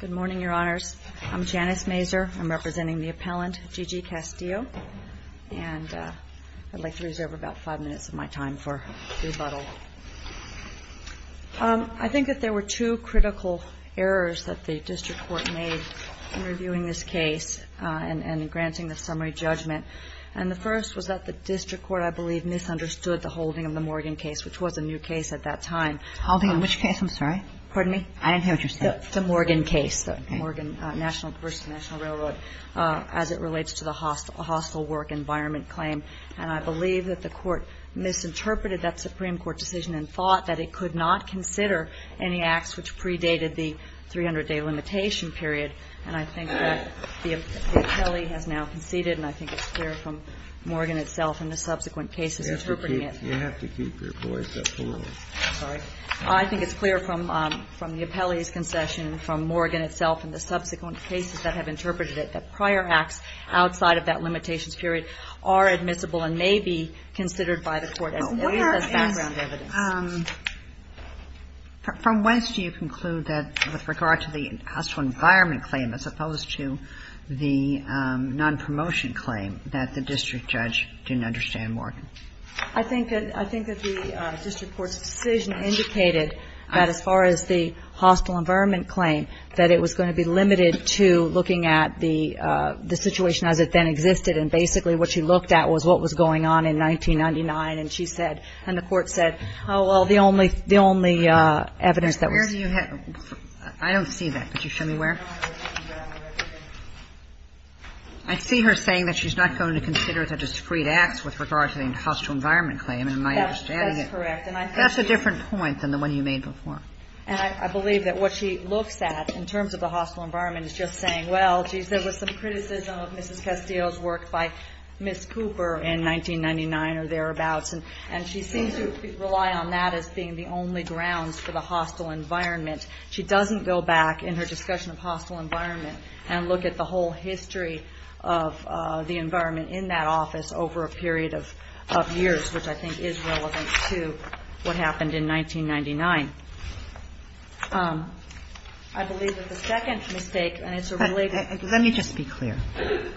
Good morning, Your Honors. I'm Janice Mazur. I'm representing the appellant, Gigi Castillo. And I'd like to reserve about five minutes of my time for rebuttal. I think that there were two critical errors that the district court made in reviewing this case and in granting the summary judgment. And the first was that the district court, I believe, misunderstood the holding of the Morgan case, which was a new case at that time. Holding which case? I'm sorry? Pardon me? I didn't hear what you said. The Morgan case, the Morgan National Railroad, as it relates to the hostile work environment claim. And I believe that the court misinterpreted that Supreme Court decision and thought that it could not consider any acts which predated the 300-day limitation period. And I think that the appellee has now conceded, and I think it's clear from Morgan itself and the subsequent cases interpreting it. You have to keep your voice up for a moment. I'm sorry. I think it's clear from the appellee's concession, from Morgan itself and the subsequent cases that have interpreted it, that prior acts outside of that limitations period are admissible and may be considered by the court as background evidence. From whence do you conclude that with regard to the hostile environment claim as opposed to the nonpromotion claim that the district judge didn't understand Morgan? I think that the district court's decision indicated that as far as the hostile environment claim, that it was going to be limited to looking at the situation as it then existed, and basically what she looked at was what was going on in 1999. And she said, and the Court said, oh, well, the only evidence that was ---- Where do you have ---- I don't see that. Could you show me where? I see her saying that she's not going to consider the discrete acts with regard to the hostile environment claim, and my understanding is ---- That's correct. And I think ---- That's a different point than the one you made before. And I believe that what she looks at in terms of the hostile environment is just saying, well, there was some criticism of Mrs. Castillo's work by Ms. Cooper in 1999 or thereabouts, and she seems to rely on that as being the only grounds for the hostile environment. She doesn't go back in her discussion of hostile environment and look at the whole history of the environment in that office over a period of years, which I think is relevant to what happened in 1999. I believe that the second mistake, and it's a really ---- Let me just be clear.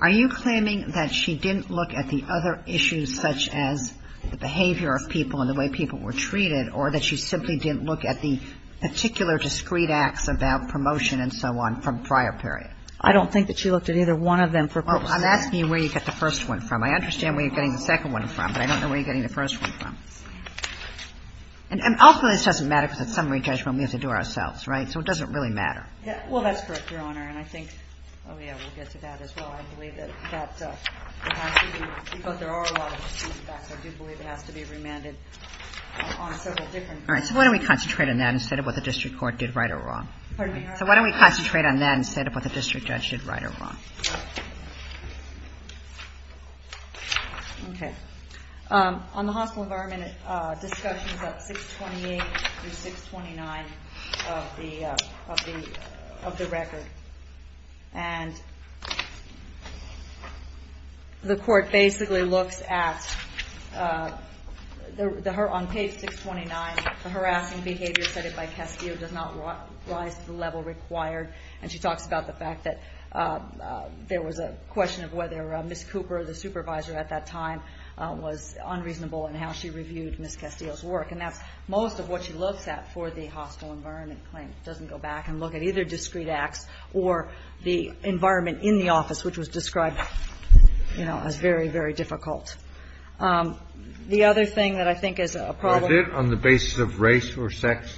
Are you claiming that she didn't look at the other issues such as the behavior of people and the way people were treated, or that she simply didn't look at the particular discrete acts about promotion and so on from prior period? I don't think that she looked at either one of them for ---- Well, I'm asking you where you get the first one from. I understand where you're getting the second one from, but I don't know where you're getting the first one from. And ultimately this doesn't matter because at summary judgment we have to do it ourselves, right? So it doesn't really matter. Well, that's correct, Your Honor. And I think ---- Oh, yeah. We'll get to that as well. I believe that that has to be ---- because there are a lot of discrete acts. I do believe it has to be remanded on several different ---- All right. So why don't we concentrate on that instead of what the district court did right or wrong? Pardon me, Your Honor. So why don't we concentrate on that instead of what the district judge did right or wrong? Okay. On the hospital environment, discussion is at 628 through 629 of the record. And the court basically looks at the ---- on page 629, the harassing behavior cited by Castillo does not rise to the level required. And she talks about the fact that there was a question of whether Ms. Cooper, the supervisor at that time, was unreasonable in how she reviewed Ms. Castillo's work. And that's most of what she looks at for the hospital environment claim. It doesn't go back and look at either discrete acts or the environment in the office, which was described, you know, as very, very difficult. The other thing that I think is a problem ---- Was it on the basis of race or sex?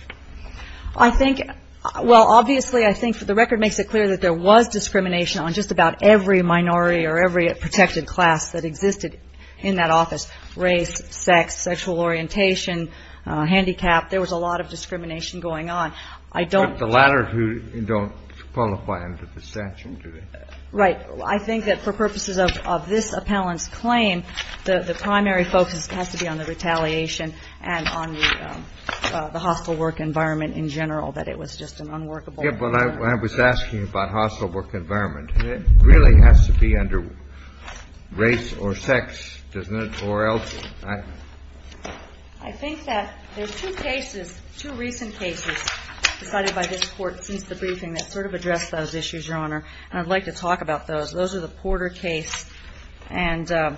I think ---- well, obviously, I think the record makes it clear that there was discrimination on just about every minority or every protected class that existed in that office, race, sex, sexual orientation, handicap. There was a lot of discrimination going on. I don't ---- But the latter who don't qualify under the statute, do they? Right. I think that for purposes of this appellant's claim, the primary focus has to be on the retaliation and on the hospital work environment in general, that it was just an unworkable environment. Yes, but I was asking about hospital work environment. It really has to be under race or sex, doesn't it, or else ---- I think that there's two cases, two recent cases decided by this Court since the briefing that sort of address those issues, Your Honor, and I'd like to talk about those. Those are the Porter case and the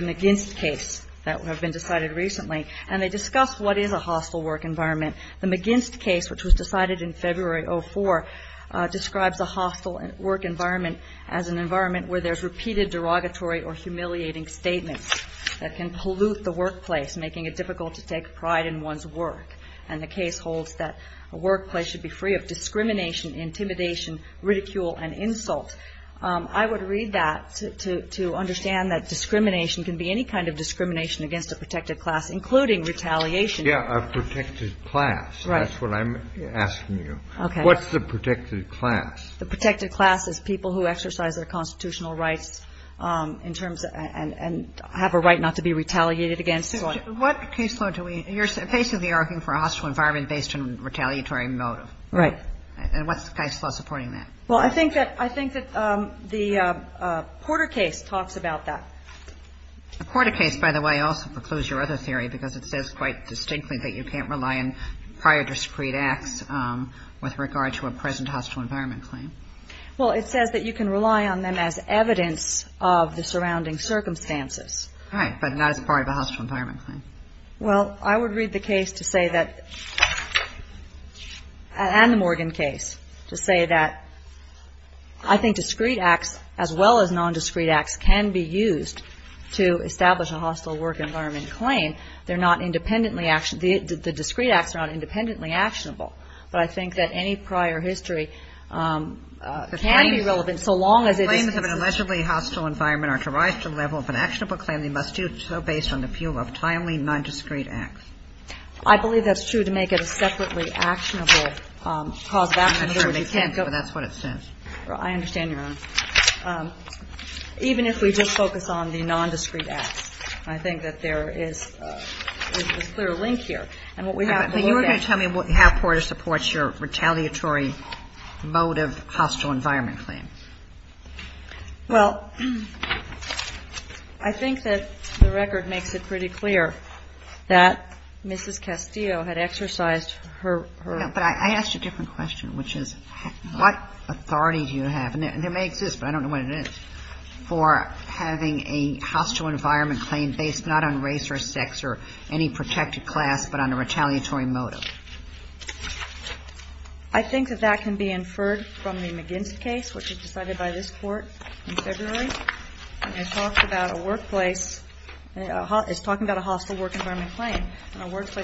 McGinst case that have been decided recently, and they discuss what is a hospital work environment. The McGinst case, which was decided in February of 2004, describes a hospital work environment as an environment where there's repeated derogatory or humiliating statements that can pollute the workplace, making it difficult to take pride in one's work. And the case holds that a workplace should be free of discrimination, intimidation, ridicule and insult. I would read that to understand that discrimination can be any kind of discrimination against a protected class, including retaliation. Yes, a protected class. Right. That's what I'm asking you. Okay. What's the protected class? The protected class is people who exercise their constitutional rights in terms of ---- and have a right not to be retaliated against. What case law do we ---- you're basically arguing for a hospital environment based on retaliatory motive. Right. And what's the case law supporting that? Well, I think that the Porter case talks about that. The Porter case, by the way, also precludes your other theory because it says quite distinctly that you can't rely on prior discreet acts with regard to a present hostile environment claim. Well, it says that you can rely on them as evidence of the surrounding circumstances. Right. But not as part of a hostile environment claim. Well, I would read the case to say that ---- and the Morgan case to say that I think discreet acts, as well as nondiscreet acts, can be used to establish a hostile work environment claim. They're not independently ---- the discreet acts are not independently actionable. But I think that any prior history can be relevant so long as it is ---- Claims of an allegedly hostile environment are to rise to the level of an actionable claim. They must do so based on the view of timely nondiscreet acts. I believe that's true to make it a separately actionable cause of action. In other words, you can't go ---- I'm sure they can't, but that's what it says. I understand, Your Honor. Even if we just focus on the nondiscreet acts, I think that there is a clear link here. And what we have to look at ---- But you were going to tell me how Porter supports your retaliatory mode of hostile environment claim. Well, I think that the record makes it pretty clear that Mrs. Castillo had exercised her ---- But I asked a different question, which is what authority do you have? And there may exist, but I don't know what it is, for having a hostile environment claim based not on race or sex or any protected class, but on a retaliatory motive. I think that that can be inferred from the McGinn's case, which was decided by this Court in February. And it talks about a workplace ---- it's talking about a hostile work environment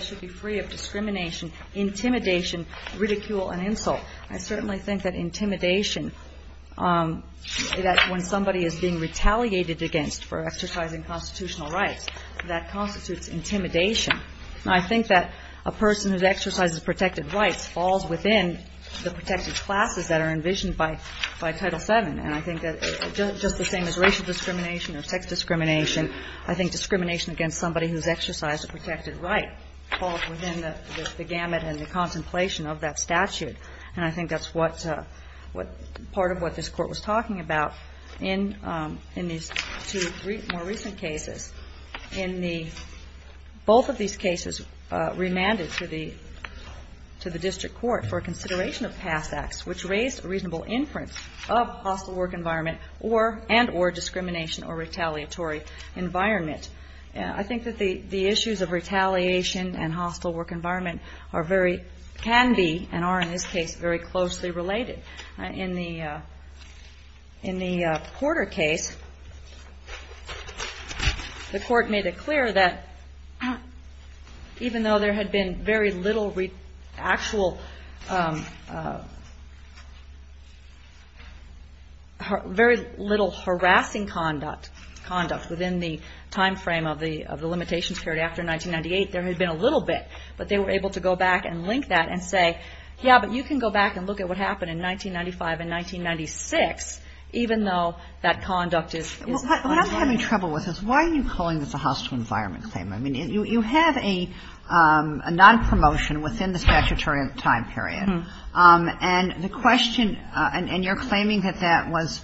should be free of discrimination, intimidation, ridicule and insult. I certainly think that intimidation, that when somebody is being retaliated against for exercising constitutional rights, that constitutes intimidation. Now, I think that a person who exercises protected rights falls within the protected classes that are envisioned by Title VII. And I think that just the same as racial discrimination or sex discrimination, I think discrimination against somebody who's exercised a protected right falls within the gamut and the contemplation of that statute. And I think that's what ---- part of what this Court was talking about in these two more recent cases. In the ---- both of these cases remanded to the district court for consideration of past acts which raised a reasonable inference of hostile work environment and or discrimination or retaliatory environment. I think that the issues of retaliation and hostile work environment are very ---- can be and are in this case very closely related. In the Porter case, the Court made it clear that even though there had been very little actual ---- very little harassing conduct within the time frame of the limitations period after 1998, there had been a little bit. But they were able to go back and link that and say, yeah, but you can go back and look at what happened in 1995 and 1996, even though that conduct is ---- Kagan. What I'm having trouble with is why are you calling this a hostile environment claim? I mean, you have a nonpromotion within the statutory time period. And the question ---- and you're claiming that that was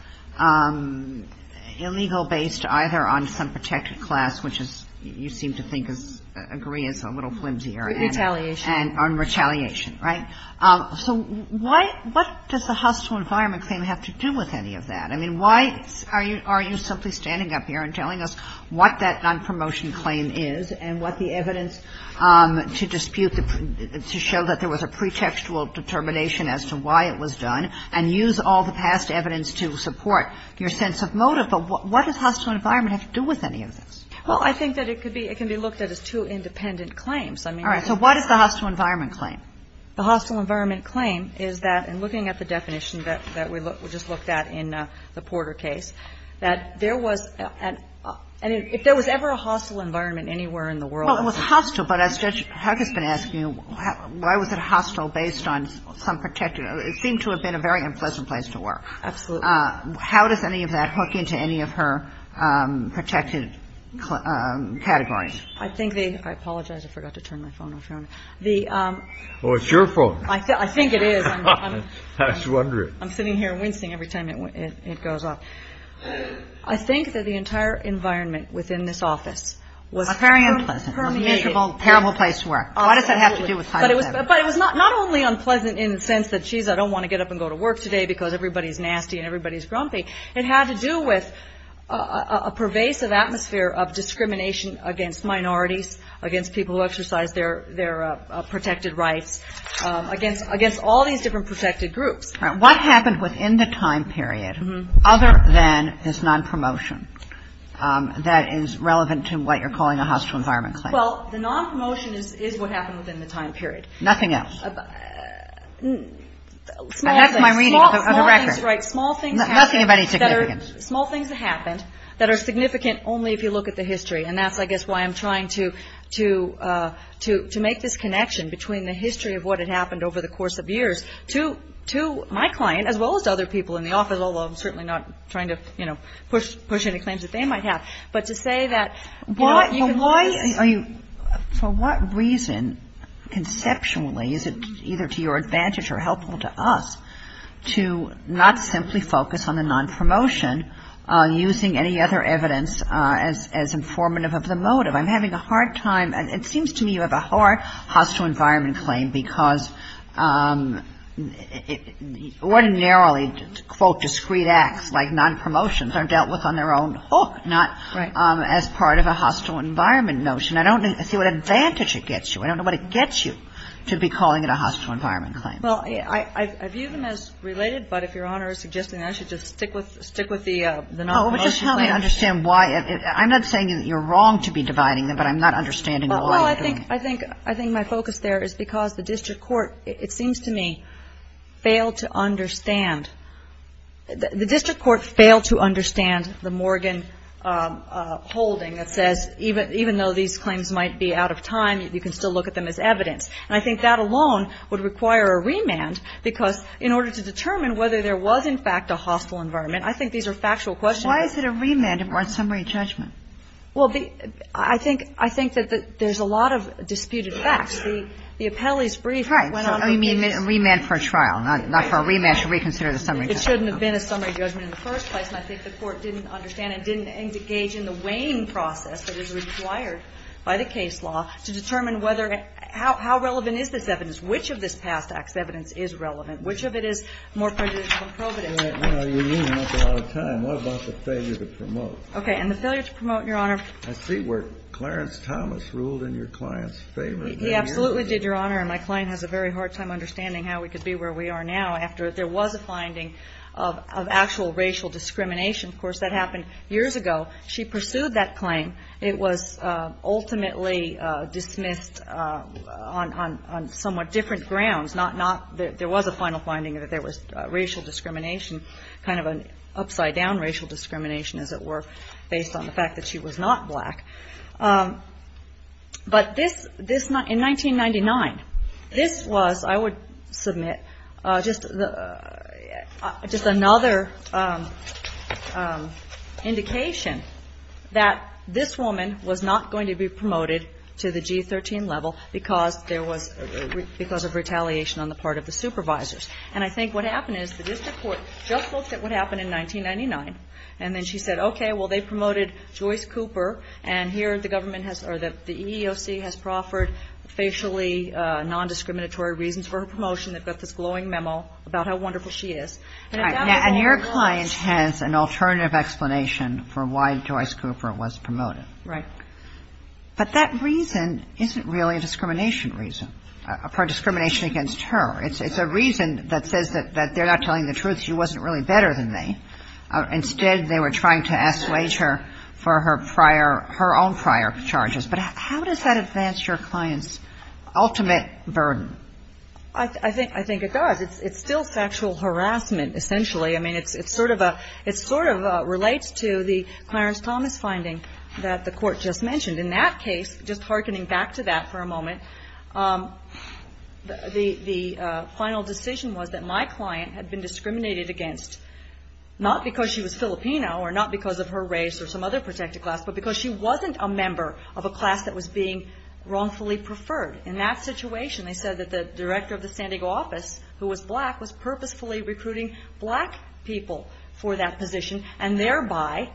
illegal based either on some protected class, which you seem to think is ---- agree is a little flimsier. Retaliation. On retaliation, right? So why ---- what does the hostile environment claim have to do with any of that? I mean, why are you simply standing up here and telling us what that nonpromotion claim is and what the evidence to dispute, to show that there was a pretextual determination as to why it was done and use all the past evidence to support your sense of motive? But what does hostile environment have to do with any of this? Well, I think that it could be ---- it can be looked at as two independent claims. I mean ---- All right. So what is the hostile environment claim? The hostile environment claim is that, in looking at the definition that we just looked at in the Porter case, that there was an ---- and if there was ever a hostile environment anywhere in the world ---- Well, it was hostile, but as Judge Huck has been asking, why was it hostile based on some protected ---- it seemed to have been a very unpleasant place to work. Absolutely. How does any of that hook into any of her protected categories? I think the ---- I apologize. I forgot to turn my phone off. The ---- Oh, it's your phone. I think it is. I was wondering. I'm sitting here wincing every time it goes off. I think that the entire environment within this office was ---- Well, very unpleasant. ---- permeated ---- A miserable, terrible place to work. Absolutely. What does that have to do with ---- But it was not only unpleasant in the sense that, geez, I don't want to get up and go to work today because everybody is nasty and everybody is grumpy. It had to do with a pervasive atmosphere of discrimination against minorities, against people who exercise their protected rights, against all these different protected groups. All right. What happened within the time period other than this nonpromotion that is relevant to what you're calling a hostile environment claim? Well, the nonpromotion is what happened within the time period. Nothing else. Small things. And that's my reading of the record. Right. Small things that happened. Nothing of any significance. Small things that happened that are significant only if you look at the history. And that's, I guess, why I'm trying to make this connection between the history of what had to do with my client as well as other people in the office, although I'm certainly not trying to, you know, push any claims that they might have. But to say that, you know, you can do this ---- Well, why are you ---- For what reason, conceptually, is it either to your advantage or helpful to us to not simply focus on the nonpromotion using any other evidence as informative of the motive? I'm having a hard time. It seems to me you have a hard hostile environment claim because ordinarily, quote, discreet acts like nonpromotions are dealt with on their own hook, not as part of a hostile environment notion. I don't see what advantage it gets you. I don't know what it gets you to be calling it a hostile environment claim. Well, I view them as related, but if Your Honor is suggesting that, I should just stick with the nonpromotion claim. No, but just help me understand why. I'm not saying that you're wrong to be dividing them, but I'm not understanding why you're doing it. Well, I think my focus there is because the district court, it seems to me, failed to understand. The district court failed to understand the Morgan holding that says even though these claims might be out of time, you can still look at them as evidence. And I think that alone would require a remand because in order to determine whether there was in fact a hostile environment, I think these are factual questions. Why is it a remand or a summary judgment? Well, I think that there's a lot of disputed facts. The appellee's brief went on to say this. Right. So you mean a remand for trial, not for a remand to reconsider the summary judgment. It shouldn't have been a summary judgment in the first place, and I think the Court didn't understand and didn't engage in the weighing process that is required by the case law to determine whether or how relevant is this evidence, which of this I don't think is provident. Well, you mean that's a lot of time. What about the failure to promote? Okay. And the failure to promote, Your Honor. I see where Clarence Thomas ruled in your client's favor. He absolutely did, Your Honor. And my client has a very hard time understanding how we could be where we are now after there was a finding of actual racial discrimination. Of course, that happened years ago. She pursued that claim. It was ultimately dismissed on somewhat different grounds, not that there was a final racial discrimination, kind of an upside-down racial discrimination, as it were, based on the fact that she was not black. But in 1999, this was, I would submit, just another indication that this woman was not going to be promoted to the G-13 level because of retaliation on the part of the supervisors. And I think what happened is the district court just looked at what happened in 1999, and then she said, okay, well, they promoted Joyce Cooper. And here the government has or the EEOC has proffered facially nondiscriminatory reasons for her promotion. They've got this glowing memo about how wonderful she is. All right. And your client has an alternative explanation for why Joyce Cooper was promoted. Right. But that reason isn't really a discrimination reason, a discrimination against her. It's a reason that says that they're not telling the truth. She wasn't really better than they. Instead, they were trying to assuage her for her prior – her own prior charges. But how does that advance your client's ultimate burden? I think it does. It's still factual harassment, essentially. I mean, it's sort of a – it sort of relates to the Clarence Thomas finding that the Court just mentioned. In that case, just hearkening back to that for a moment, the final decision was that my client had been discriminated against not because she was Filipino or not because of her race or some other protected class, but because she wasn't a member of a class that was being wrongfully preferred. In that situation, they said that the director of the San Diego office, who was black, was purposefully recruiting black people for that position and thereby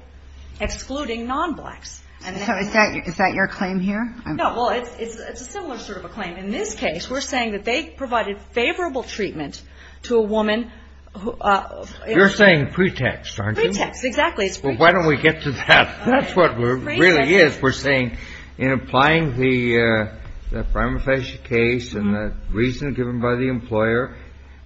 excluding non-blacks. So is that your claim here? No. Well, it's a similar sort of a claim. In this case, we're saying that they provided favorable treatment to a woman who – You're saying pretext, aren't you? Pretext, exactly. Well, why don't we get to that? That's what really is. We're saying in applying the prima facie case and the reason given by the employer,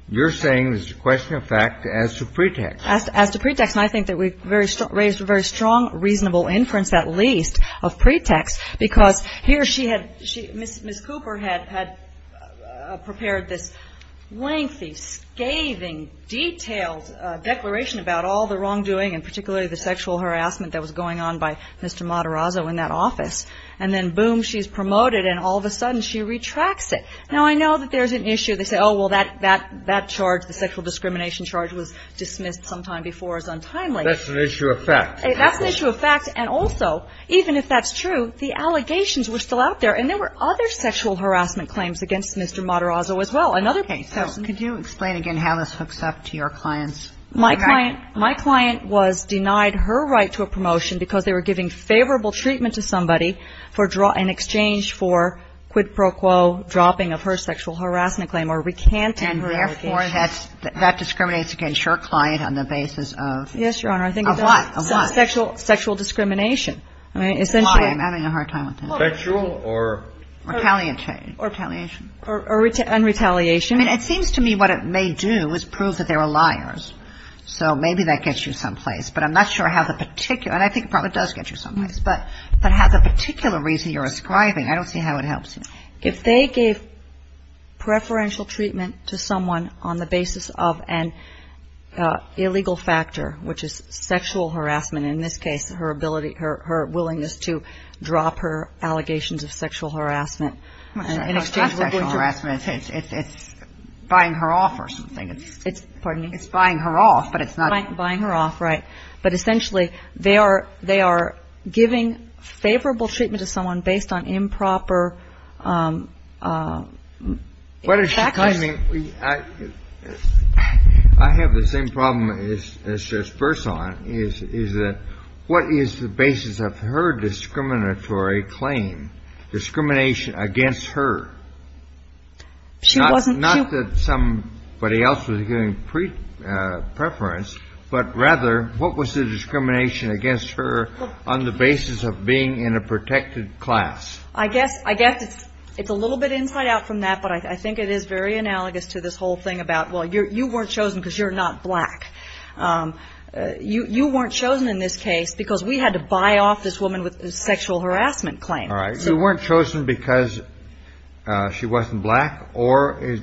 you're saying there's a question of fact as to pretext. As to pretext. And I think that we've raised a very strong, reasonable inference at least of pretext because here she had – Miss Cooper had prepared this lengthy, scathing, detailed declaration about all the wrongdoing and particularly the sexual harassment that was going on by Mr. Matarazzo in that office. And then, boom, she's promoted and all of a sudden she retracts it. Now, I know that there's an issue. They say, oh, well, that charge, the sexual discrimination charge, was dismissed sometime before as untimely. That's an issue of fact. That's an issue of fact. And also, even if that's true, the allegations were still out there. And there were other sexual harassment claims against Mr. Matarazzo as well. Okay. So could you explain again how this hooks up to your clients? My client was denied her right to a promotion because they were giving favorable treatment to somebody in exchange for quid pro quo dropping of her sexual harassment claim or recanting her allegations. And therefore, that discriminates against your client on the basis of? Yes, Your Honor. Of what? Sexual discrimination. Why? I'm having a hard time with that. Sexual or? Retaliation. Or retaliation. Or un-retaliation. I mean, it seems to me what it may do is prove that they were liars. So maybe that gets you someplace. But I'm not sure how the particular – and I think it probably does get you someplace. But how the particular reason you're ascribing, I don't see how it helps. If they gave preferential treatment to someone on the basis of an illegal factor, which is sexual harassment, in this case, her willingness to drop her allegations of sexual harassment in exchange for quid pro quo. It's not sexual harassment. It's buying her off or something. Pardon me? It's buying her off, but it's not. Buying her off, right. But essentially, they are giving favorable treatment to someone based on improper factors. What is she claiming? I have the same problem as Judge Burson is that what is the basis of her discriminatory claim? Discrimination against her. She wasn't. Not that somebody else was giving preference, but rather, what was the discrimination against her on the basis of being in a protected class? I guess it's a little bit inside out from that, but I think it is very analogous to this whole thing about, well, you weren't chosen because you're not black. You weren't chosen in this case because we had to buy off this woman with a sexual harassment claim. All right. You weren't chosen because she wasn't black or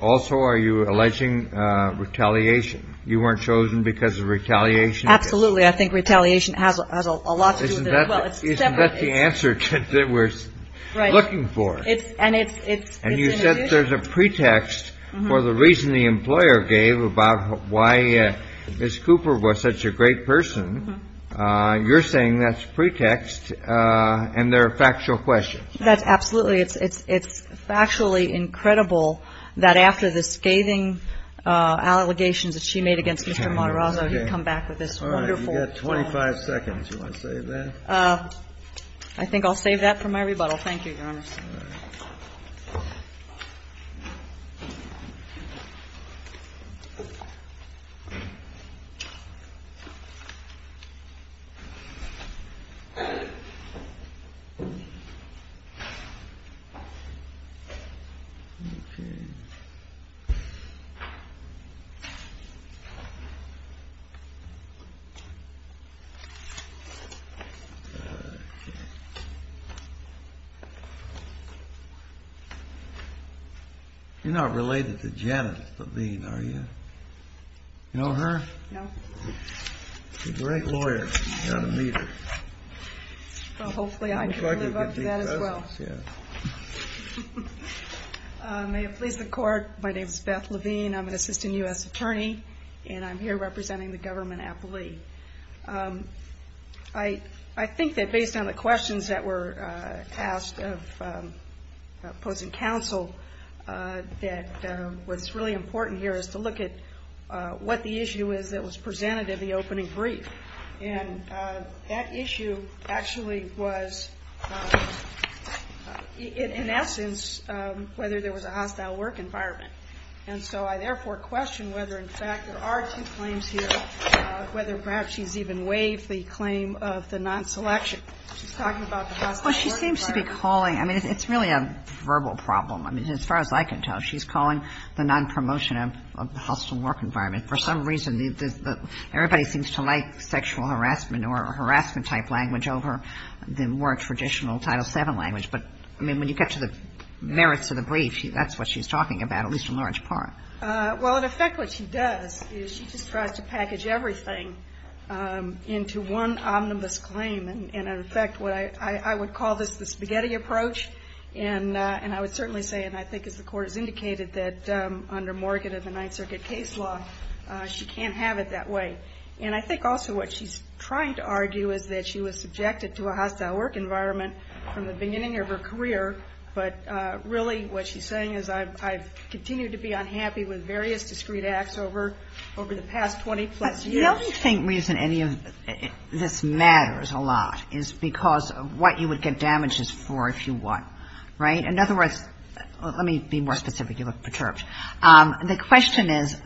also are you alleging retaliation? You weren't chosen because of retaliation? Absolutely. I think retaliation has a lot to do with it as well. Isn't that the answer that we're looking for? And you said there's a pretext for the reason the employer gave about why Miss Cooper was such a great person. You're saying that's pretext and they're factual questions. That's absolutely. It's factually incredible that after the scathing allegations that she made against Mr. Matarazzo, he'd come back with this wonderful. All right. You've got 25 seconds. You want to save that? I think I'll save that for my rebuttal. Thank you, Your Honor. Thank you. You're not related to Janet Levine, are you? You know her? No. She's a great lawyer. You ought to meet her. Well, hopefully I can live up to that as well. May it please the court. My name is Beth Levine. I'm an assistant U.S. attorney, and I'm here representing the government appellee. I think that based on the questions that were asked of opposing counsel, that what's really important here is to look at what the issue is that was presented in the opening brief. And that issue actually was, in essence, whether there was a hostile work environment. And so I therefore question whether, in fact, there are two claims here, whether perhaps she's even waived the claim of the nonselection. She's talking about the hostile work environment. Well, she seems to be calling – I mean, it's really a verbal problem. I mean, as far as I can tell, she's calling the nonpromotion of the hostile work environment. For some reason, everybody seems to like sexual harassment or harassment-type language over the more traditional Title VII language. But, I mean, when you get to the merits of the brief, that's what she's talking about, at least in large part. Well, in effect, what she does is she just tries to package everything into one omnibus claim. And, in effect, I would call this the spaghetti approach. And I would certainly say, and I think as the Court has indicated, that under Morgan and the Ninth Circuit case law, she can't have it that way. And I think also what she's trying to argue is that she was subjected to a hostile work environment from the beginning of her career, but really what she's saying is, I've continued to be unhappy with various discrete acts over the past 20-plus years. The only reason any of this matters a lot is because of what you would get damages for if you won. Right? In other words, let me be more specific. You look perturbed. The question is,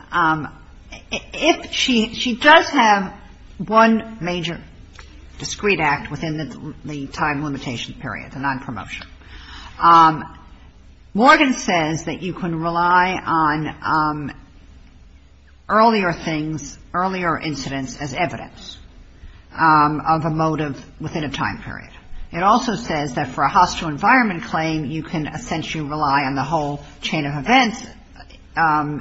if she does have one major discrete act within the time limitation period, the nonpromotion, Morgan says that you can rely on earlier things, earlier incidents as evidence of a motive within a time period. It also says that for a hostile environment claim, you can essentially rely on the whole chain of events,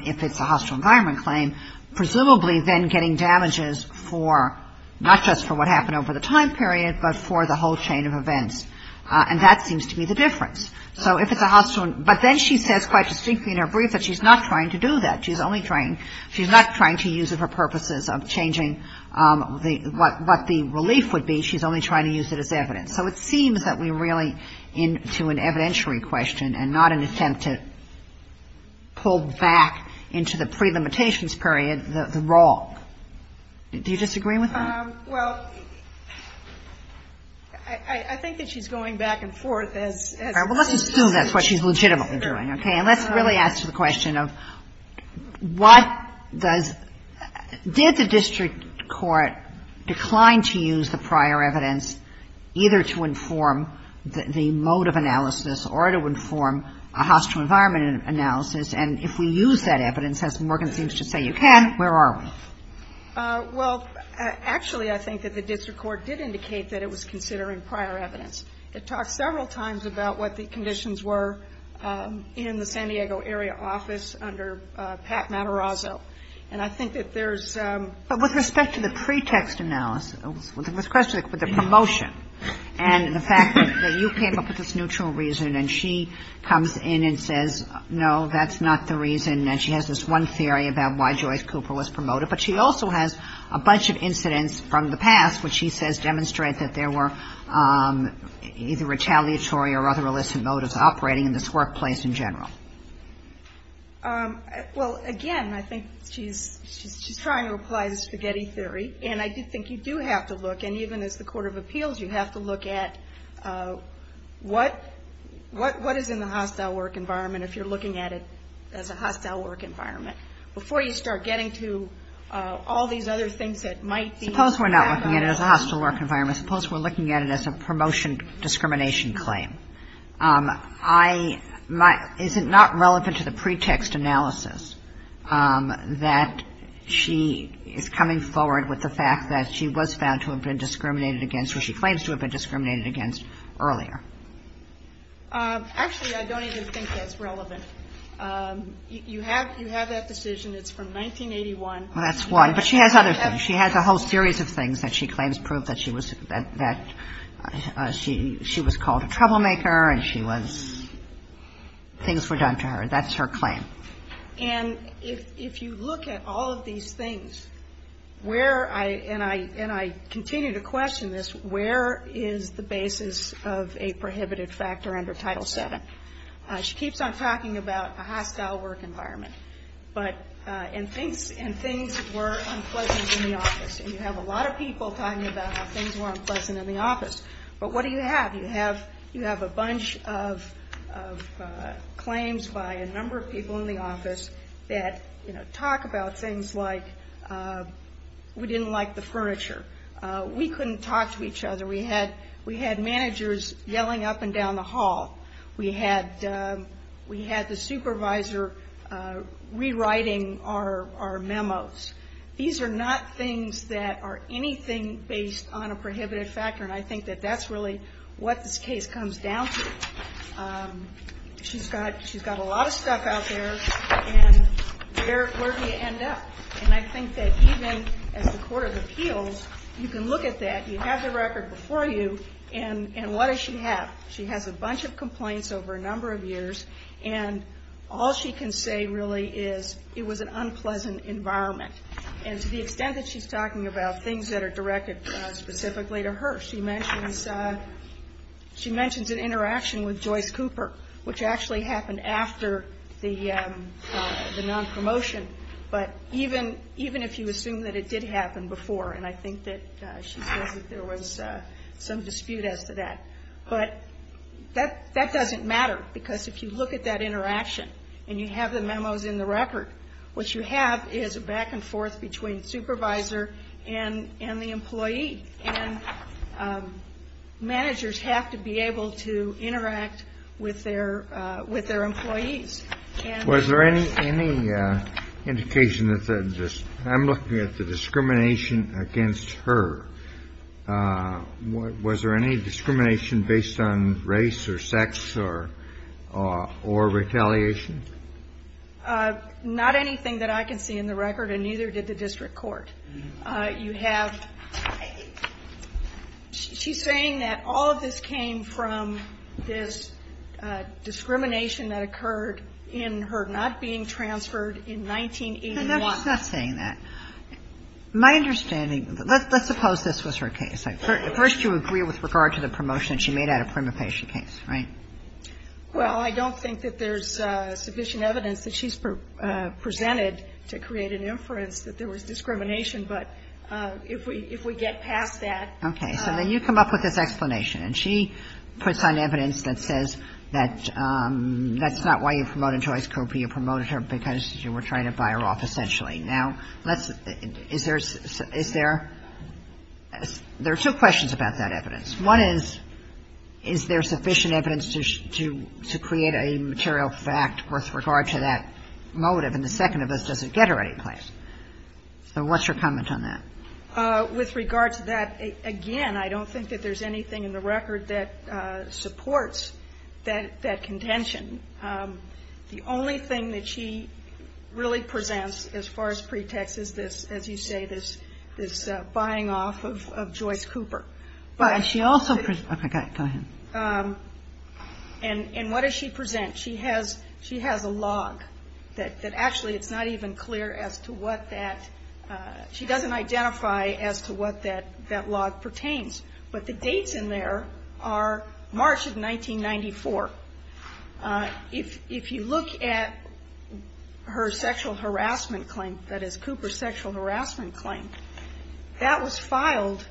if it's a hostile environment claim, presumably then getting damages for, not just for what happened over the time period, but for the whole chain of events. And that seems to be the difference. So if it's a hostile ‑‑ but then she says quite distinctly in her brief that she's not trying to do that. She's only trying ‑‑ she's not trying to use it for purposes of changing what the relief would be. She's only trying to use it as evidence. So it seems that we're really into an evidentiary question and not an attempt to pull back into the prelimitations period the wrong. Do you disagree with that? Well, I think that she's going back and forth as ‑‑ All right. Well, let's assume that's what she's legitimately doing, okay? And let's really ask the question of what does ‑‑ did the district court decline to use the prior evidence either to inform the mode of analysis or to inform a hostile environment analysis? And if we use that evidence, as Morgan seems to say you can, where are we? Well, actually I think that the district court did indicate that it was considering prior evidence. It talked several times about what the conditions were in the San Diego area office under Pat Matarazzo. And I think that there's ‑‑ But with respect to the pretext analysis, with respect to the promotion and the fact that you came up with this neutral reason and she comes in and says, no, that's not the reason, and she has this one theory about why Joyce Cooper was promoted. But she also has a bunch of incidents from the past which she says demonstrate that there were either retaliatory or other illicit motives operating in this workplace in general. Well, again, I think she's trying to apply the spaghetti theory. And I do think you do have to look, and even as the court of appeals, you have to look at what is in the hostile work environment if you're looking at it as a hostile work environment. Before you start getting to all these other things that might be ‑‑ Suppose we're not looking at it as a hostile work environment. Suppose we're looking at it as a promotion discrimination claim. Is it not relevant to the pretext analysis that she is coming forward with the fact that she was found to have been discriminated against or she claims to have been discriminated against earlier? Actually, I don't even think that's relevant. You have that decision. It's from 1981. Well, that's one. But she has other things. She has other things that she claims prove that she was called a troublemaker and she was ‑‑ things were done to her. That's her claim. And if you look at all of these things, where, and I continue to question this, where is the basis of a prohibited factor under Title VII? She keeps on talking about a hostile work environment. But, and things were unpleasant in the office. And you have a lot of people talking about how things were unpleasant in the office. But what do you have? You have a bunch of claims by a number of people in the office that, you know, talk about things like we didn't like the furniture. We couldn't talk to each other. We had managers yelling up and down the hall. We had the supervisor rewriting our memos. These are not things that are anything based on a prohibited factor. And I think that that's really what this case comes down to. She's got a lot of stuff out there. And where do you end up? And I think that even as a court of appeals, you can look at that. You have the record before you. And what does she have? She has a bunch of complaints over a number of years. And all she can say really is it was an unpleasant environment. And to the extent that she's talking about things that are directed specifically to her, she mentions an interaction with Joyce Cooper, which actually happened after the nonpromotion. But even if you assume that it did happen before, and I think that she says that there was some dispute as to that. But that doesn't matter because if you look at that interaction and you have the memos in the record, what you have is a back and forth between supervisor and the employee. And managers have to be able to interact with their employees. Was there any indication that the ‑‑ I'm looking at the discrimination against her. Was there any discrimination based on race or sex or retaliation? Not anything that I can see in the record, and neither did the district court. You have ‑‑ she's saying that all of this came from this discrimination that occurred in her not being transferred in 1981. No, she's not saying that. My understanding, let's suppose this was her case. First you agree with regard to the promotion that she made out of prima facie case, right? Well, I don't think that there's sufficient evidence that she's presented to create an inference that there was discrimination. But if we get past that. Okay. So then you come up with this explanation. And she puts on evidence that says that that's not why you promoted Joyce Cooper. You promoted her because you were trying to buy her off essentially. Now, let's ‑‑ is there ‑‑ there are two questions about that evidence. One is, is there sufficient evidence to create a material fact with regard to that motive? And the second of this, does it get her any place? So what's your comment on that? With regard to that, again, I don't think that there's anything in the record that supports that contention. The only thing that she really presents as far as pretext is this, as you say, this buying off of Joyce Cooper. But she also ‑‑ okay, go ahead. And what does she present? She has a log that actually it's not even clear as to what that ‑‑ she doesn't identify as to what that log pertains. But the dates in there are March of 1994. If you look at her sexual harassment claim, that is, Cooper's sexual harassment claim, that was filed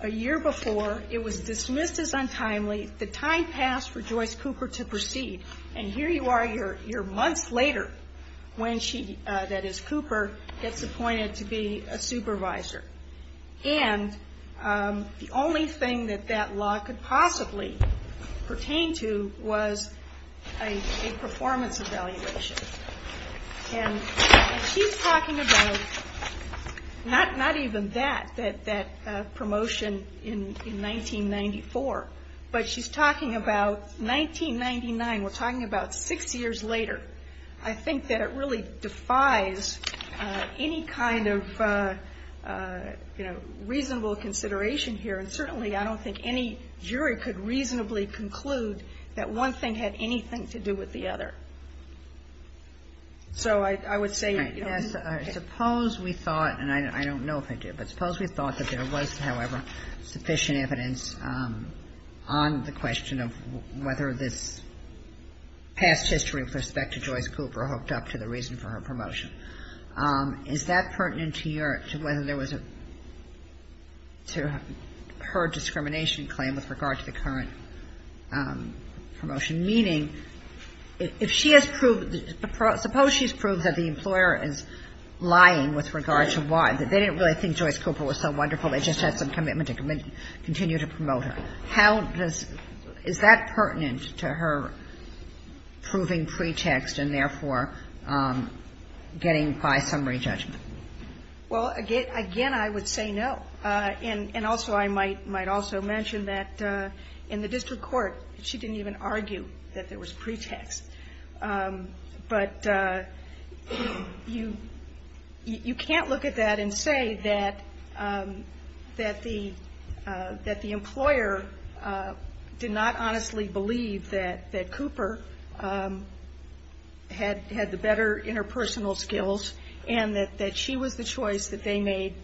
a year before. It was dismissed as untimely. The time passed for Joyce Cooper to proceed. And here you are, you're months later when she, that is, Cooper, gets appointed to be a supervisor. And the only thing that that log could possibly pertain to was a performance evaluation. And she's talking about not even that, that promotion in 1994. But she's talking about 1999. We're talking about six years later. But I think that it really defies any kind of, you know, reasonable consideration here. And certainly I don't think any jury could reasonably conclude that one thing had anything to do with the other. So I would say ‑‑ Suppose we thought, and I don't know if I did, but suppose we thought that there was, however, sufficient evidence on the question of whether this past history with respect to Joyce Cooper hooked up to the reason for her promotion. Is that pertinent to your, to whether there was a, to her discrimination claim with regard to the current promotion? Meaning, if she has proved, suppose she's proved that the employer is lying with regard to why, that they didn't really think Joyce Cooper was so wonderful. They just had some commitment to continue to promote her. How does, is that pertinent to her proving pretext and, therefore, getting by summary judgment? Well, again, I would say no. And also I might also mention that in the district court she didn't even argue that there was pretext. But you can't look at that and say that the employer did not honestly believe that Cooper had the better interpersonal skills and that she was the choice that they made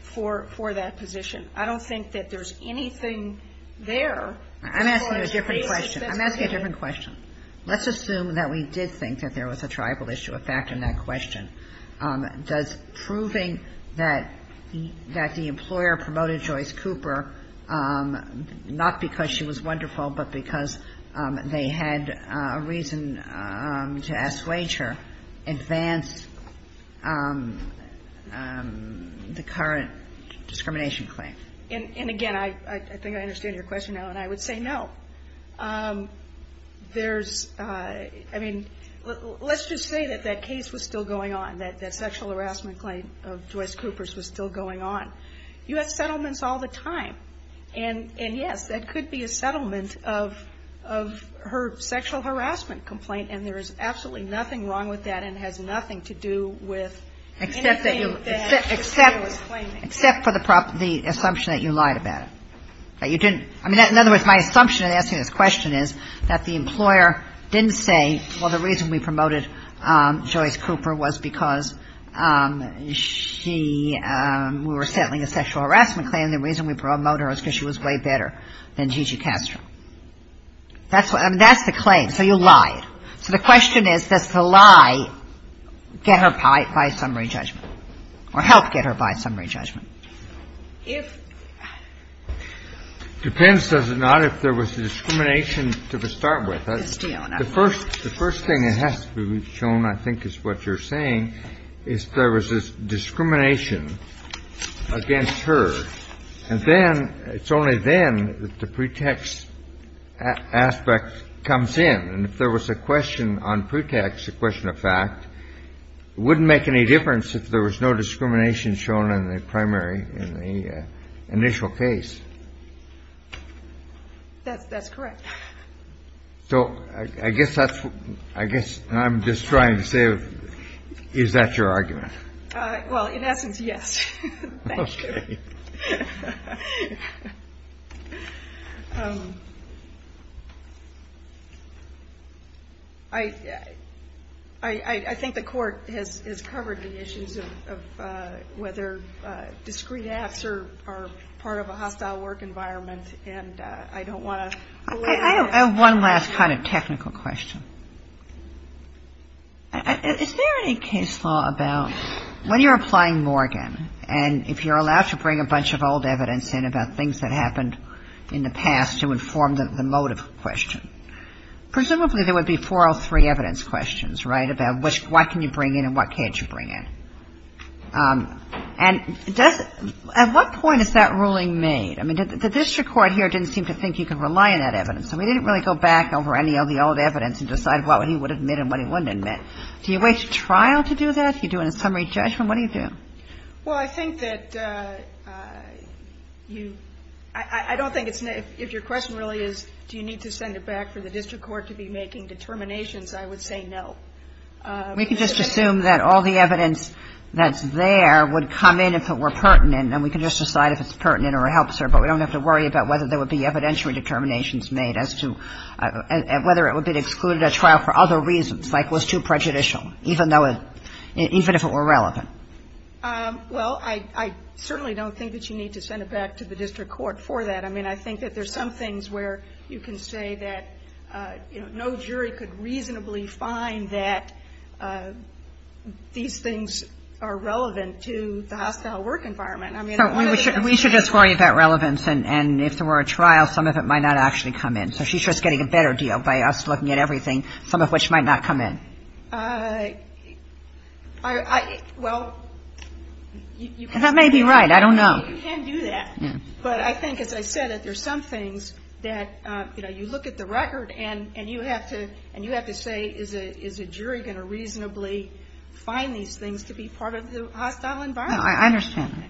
for that position. I don't think that there's anything there. I'm asking a different question. I'm asking a different question. Let's assume that we did think that there was a tribal issue. A factor in that question. Does proving that the employer promoted Joyce Cooper, not because she was wonderful, but because they had a reason to ask Wager, advance the current discrimination claim? And, again, I think I understand your question, Ellen. I would say no. There's, I mean, let's just say that that case was still going on, that that sexual harassment claim of Joyce Cooper's was still going on. You have settlements all the time. And, yes, that could be a settlement of her sexual harassment complaint, and there is absolutely nothing wrong with that and has nothing to do with anything that the employer was claiming. Except for the assumption that you lied about it, that you didn't. I mean, in other words, my assumption in asking this question is that the employer didn't say, well, the reason we promoted Joyce Cooper was because she, we were settling a sexual harassment claim. And the reason we promoted her was because she was way better than Gigi Castro. That's the claim. So you lied. So the question is, does the lie get her by summary judgment or help get her by summary judgment? It depends, does it not, if there was discrimination to start with. The first thing that has to be shown, I think, is what you're saying, is there was discrimination against her. And then, it's only then that the pretext aspect comes in. And if there was a question on pretext, a question of fact, it wouldn't make any difference if there was no discrimination shown in the primary, in the initial case. That's correct. So I guess that's, I guess I'm just trying to say, is that your argument? Well, in essence, yes. Thank you. Okay. I think the Court has covered the issues of whether discreet acts are part of a hostile work environment. And I don't want to go into that. I have one last kind of technical question. Is there any case law about when you're applying Morgan, and if you're allowed to bring a bunch of old evidence in about things that happened in the past to inform the motive question, presumably there would be four or three evidence questions, right, about what can you bring in and what can't you bring in. And at what point is that ruling made? I mean, the district court here didn't seem to think you could rely on that evidence. So we didn't really go back over any of the old evidence and decide what he would admit and what he wouldn't admit. Do you wait to trial to do that? Do you do a summary judgment? What do you do? Well, I think that you, I don't think it's, if your question really is do you need to send it back for the district court to be making determinations, I would say no. We can just assume that all the evidence that's there would come in if it were pertinent, and we can just decide if it's pertinent or it helps her, but we don't have to worry about whether there would be evidentiary determinations made as to whether it would be excluded at trial for other reasons, like was too prejudicial, even though it, even if it were relevant. Well, I certainly don't think that you need to send it back to the district court for that. I mean, I think that there's some things where you can say that, you know, no jury could reasonably find that these things are relevant to the hospital work environment. I mean, one of the things you can say. We should just worry about relevance, and if there were a trial, some of it might not actually come in. So she's just getting a better deal by us looking at everything, some of which might not come in. Well, you can't do that. That may be right. I don't know. You can't do that. But I think, as I said, that there's some things that, you know, and you have to say, is a jury going to reasonably find these things to be part of the hospital environment? No, I understand.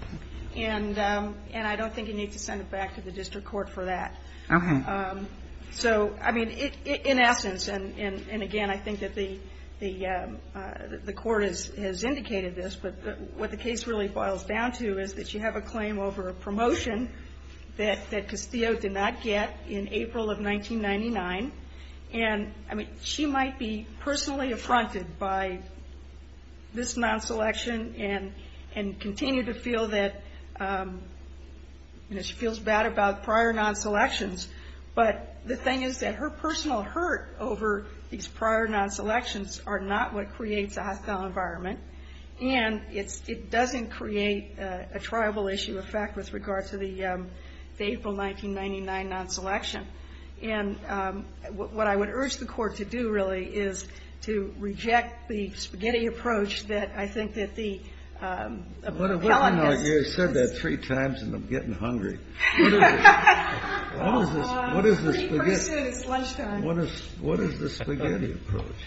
And I don't think you need to send it back to the district court for that. Okay. So, I mean, in essence, and, again, I think that the court has indicated this, but what the case really boils down to is that you have a claim over a promotion that Castillo did not get in April of 1999. And, I mean, she might be personally affronted by this non-selection and continue to feel that she feels bad about prior non-selections. But the thing is that her personal hurt over these prior non-selections are not what creates a hostile environment, and it doesn't create a triable issue of fact with regard to the April 1999 non-selection. And what I would urge the court to do, really, is to reject the spaghetti approach that I think that the appellant has. You said that three times, and I'm getting hungry. What is the spaghetti approach?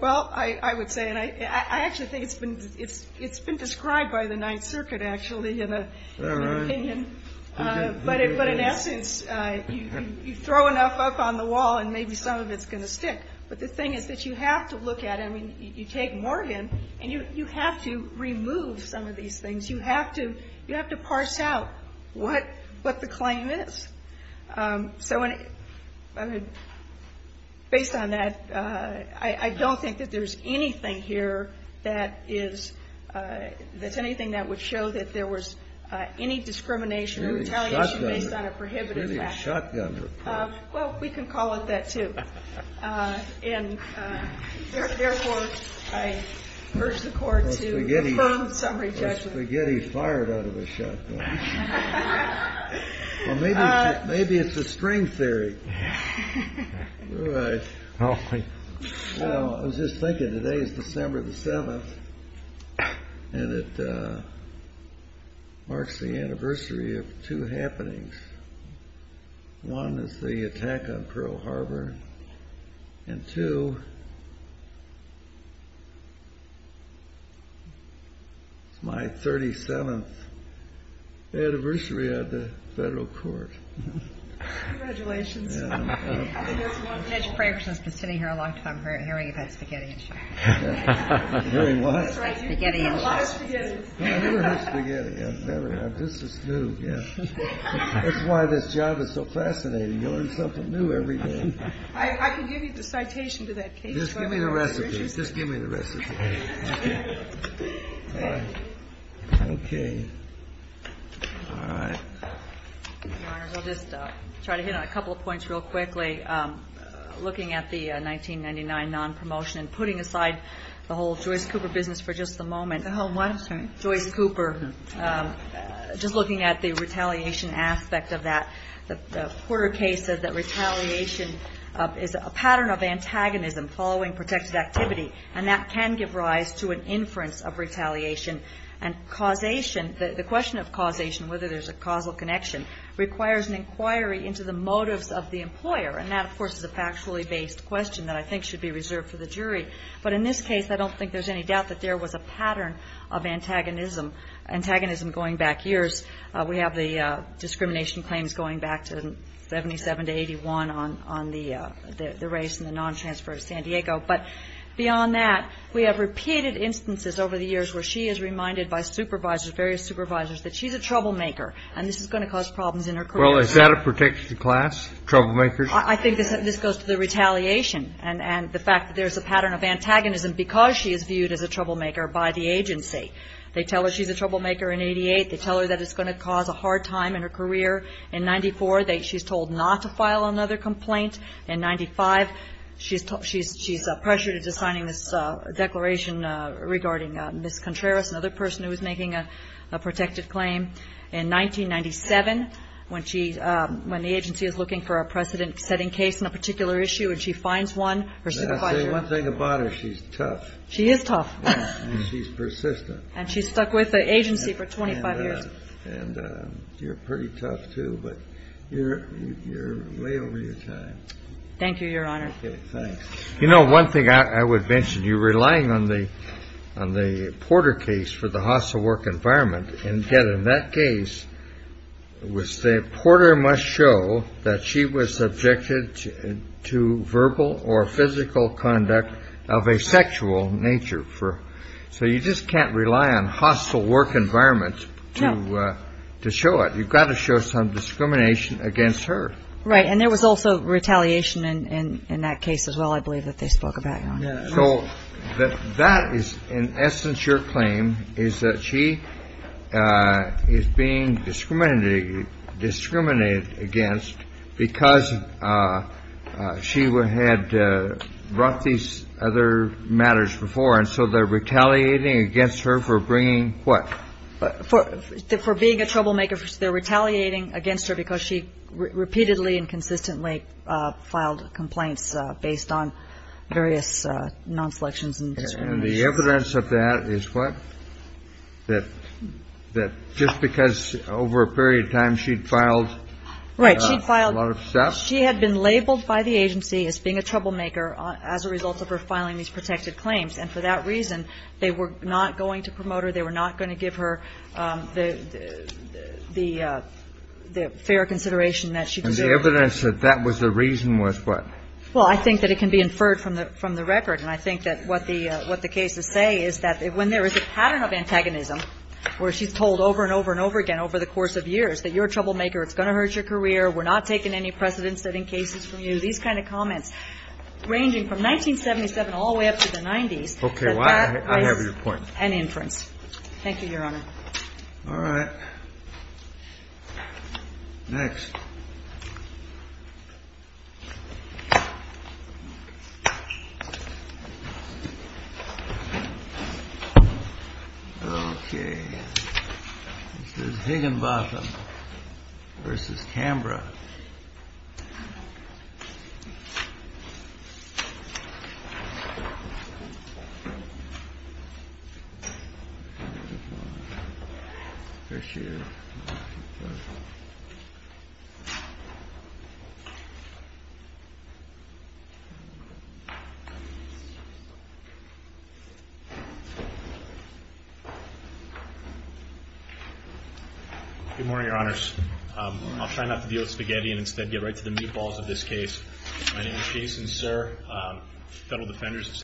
Well, I would say, and I actually think it's been described by the Ninth Circuit, actually, in an opinion. But in essence, you throw enough up on the wall, and maybe some of it's going to stick. But the thing is that you have to look at it. I mean, you take Morgan, and you have to remove some of these things. You have to parse out what the claim is. So based on that, I don't think that there's anything here that is anything that would show that there was any discrimination or retaliation based on a prohibited fact. It's really a shotgun report. Well, we can call it that, too. And therefore, I urge the court to affirm summary judgment. Or spaghetti fired out of a shotgun. Well, maybe it's a string theory. I was just thinking, today is December the 7th, and it marks the anniversary of two happenings. One is the attack on Pearl Harbor. And two, it's my 37th anniversary at the federal court. Congratulations. I've been sitting here a long time hearing about spaghetti and shots. Hearing what? Spaghetti and shots. You've had a lot of spaghetti. I've never had spaghetti. I've never had it. This is new. That's why this job is so fascinating. You learn something new every day. I can give you the citation to that case. Just give me the recipe. Just give me the recipe. Okay. All right. Your Honor, I'll just try to hit on a couple of points real quickly. Looking at the 1999 nonpromotion and putting aside the whole Joyce Cooper business for just the moment. The whole what? Joyce Cooper. Just looking at the retaliation aspect of that. The Porter case says that retaliation is a pattern of antagonism following protected activity, and that can give rise to an inference of retaliation. And causation, the question of causation, whether there's a causal connection, requires an inquiry into the motives of the employer. And that, of course, is a factually based question that I think should be reserved for the jury. But in this case, I don't think there's any doubt that there was a pattern of antagonism going back years. We have the discrimination claims going back to 77 to 81 on the race and the non-transfer to San Diego. But beyond that, we have repeated instances over the years where she is reminded by supervisors, various supervisors, that she's a troublemaker and this is going to cause problems in her career. Well, is that a protection class, troublemakers? I think this goes to the retaliation and the fact that there's a pattern of antagonism because she is viewed as a troublemaker by the agency. They tell her she's a troublemaker in 88. They tell her that it's going to cause a hard time in her career. In 94, she's told not to file another complaint. In 95, she's pressured into signing this declaration regarding Ms. Contreras, another person who was making a protected claim. In 1997, when the agency is looking for a precedent-setting case on a particular issue and she finds one, her supervisor I'll tell you one thing about her. She's tough. She is tough. And she's persistent. And she's stuck with the agency for 25 years. And you're pretty tough, too, but you're way over your time. Thank you, Your Honor. Okay, thanks. You know, one thing I would mention. You're relying on the Porter case for the hostile work environment. And yet in that case, Porter must show that she was subjected to verbal or physical conduct of a sexual nature. So you just can't rely on hostile work environment to show it. You've got to show some discrimination against her. Right. And there was also retaliation in that case as well, I believe, that they spoke about, Your Honor. So that is in essence your claim is that she is being discriminated against because she had brought these other matters before. And so they're retaliating against her for bringing what? For being a troublemaker. They're retaliating against her because she repeatedly and consistently filed complaints based on various non-selections. And the evidence of that is what? That just because over a period of time she'd filed a lot of stuff? Right. She had been labeled by the agency as being a troublemaker as a result of her filing these protected claims. And for that reason, they were not going to promote her. They were not going to give her the fair consideration that she deserved. And the evidence that that was the reason was what? Well, I think that it can be inferred from the record. And I think that what the cases say is that when there is a pattern of antagonism where she's told over and over and over again over the course of years that you're a troublemaker, it's going to hurt your career, we're not taking any precedent-setting cases from you, these kind of comments ranging from 1977 all the way up to the 90s. Okay. I have your point. Any inference? Thank you, Your Honor. All right. Next. Okay. This is Higginbotham v. Cambra. Good morning, Your Honors. I'll try not to deal with spaghetti and instead get right to the meatballs of this case.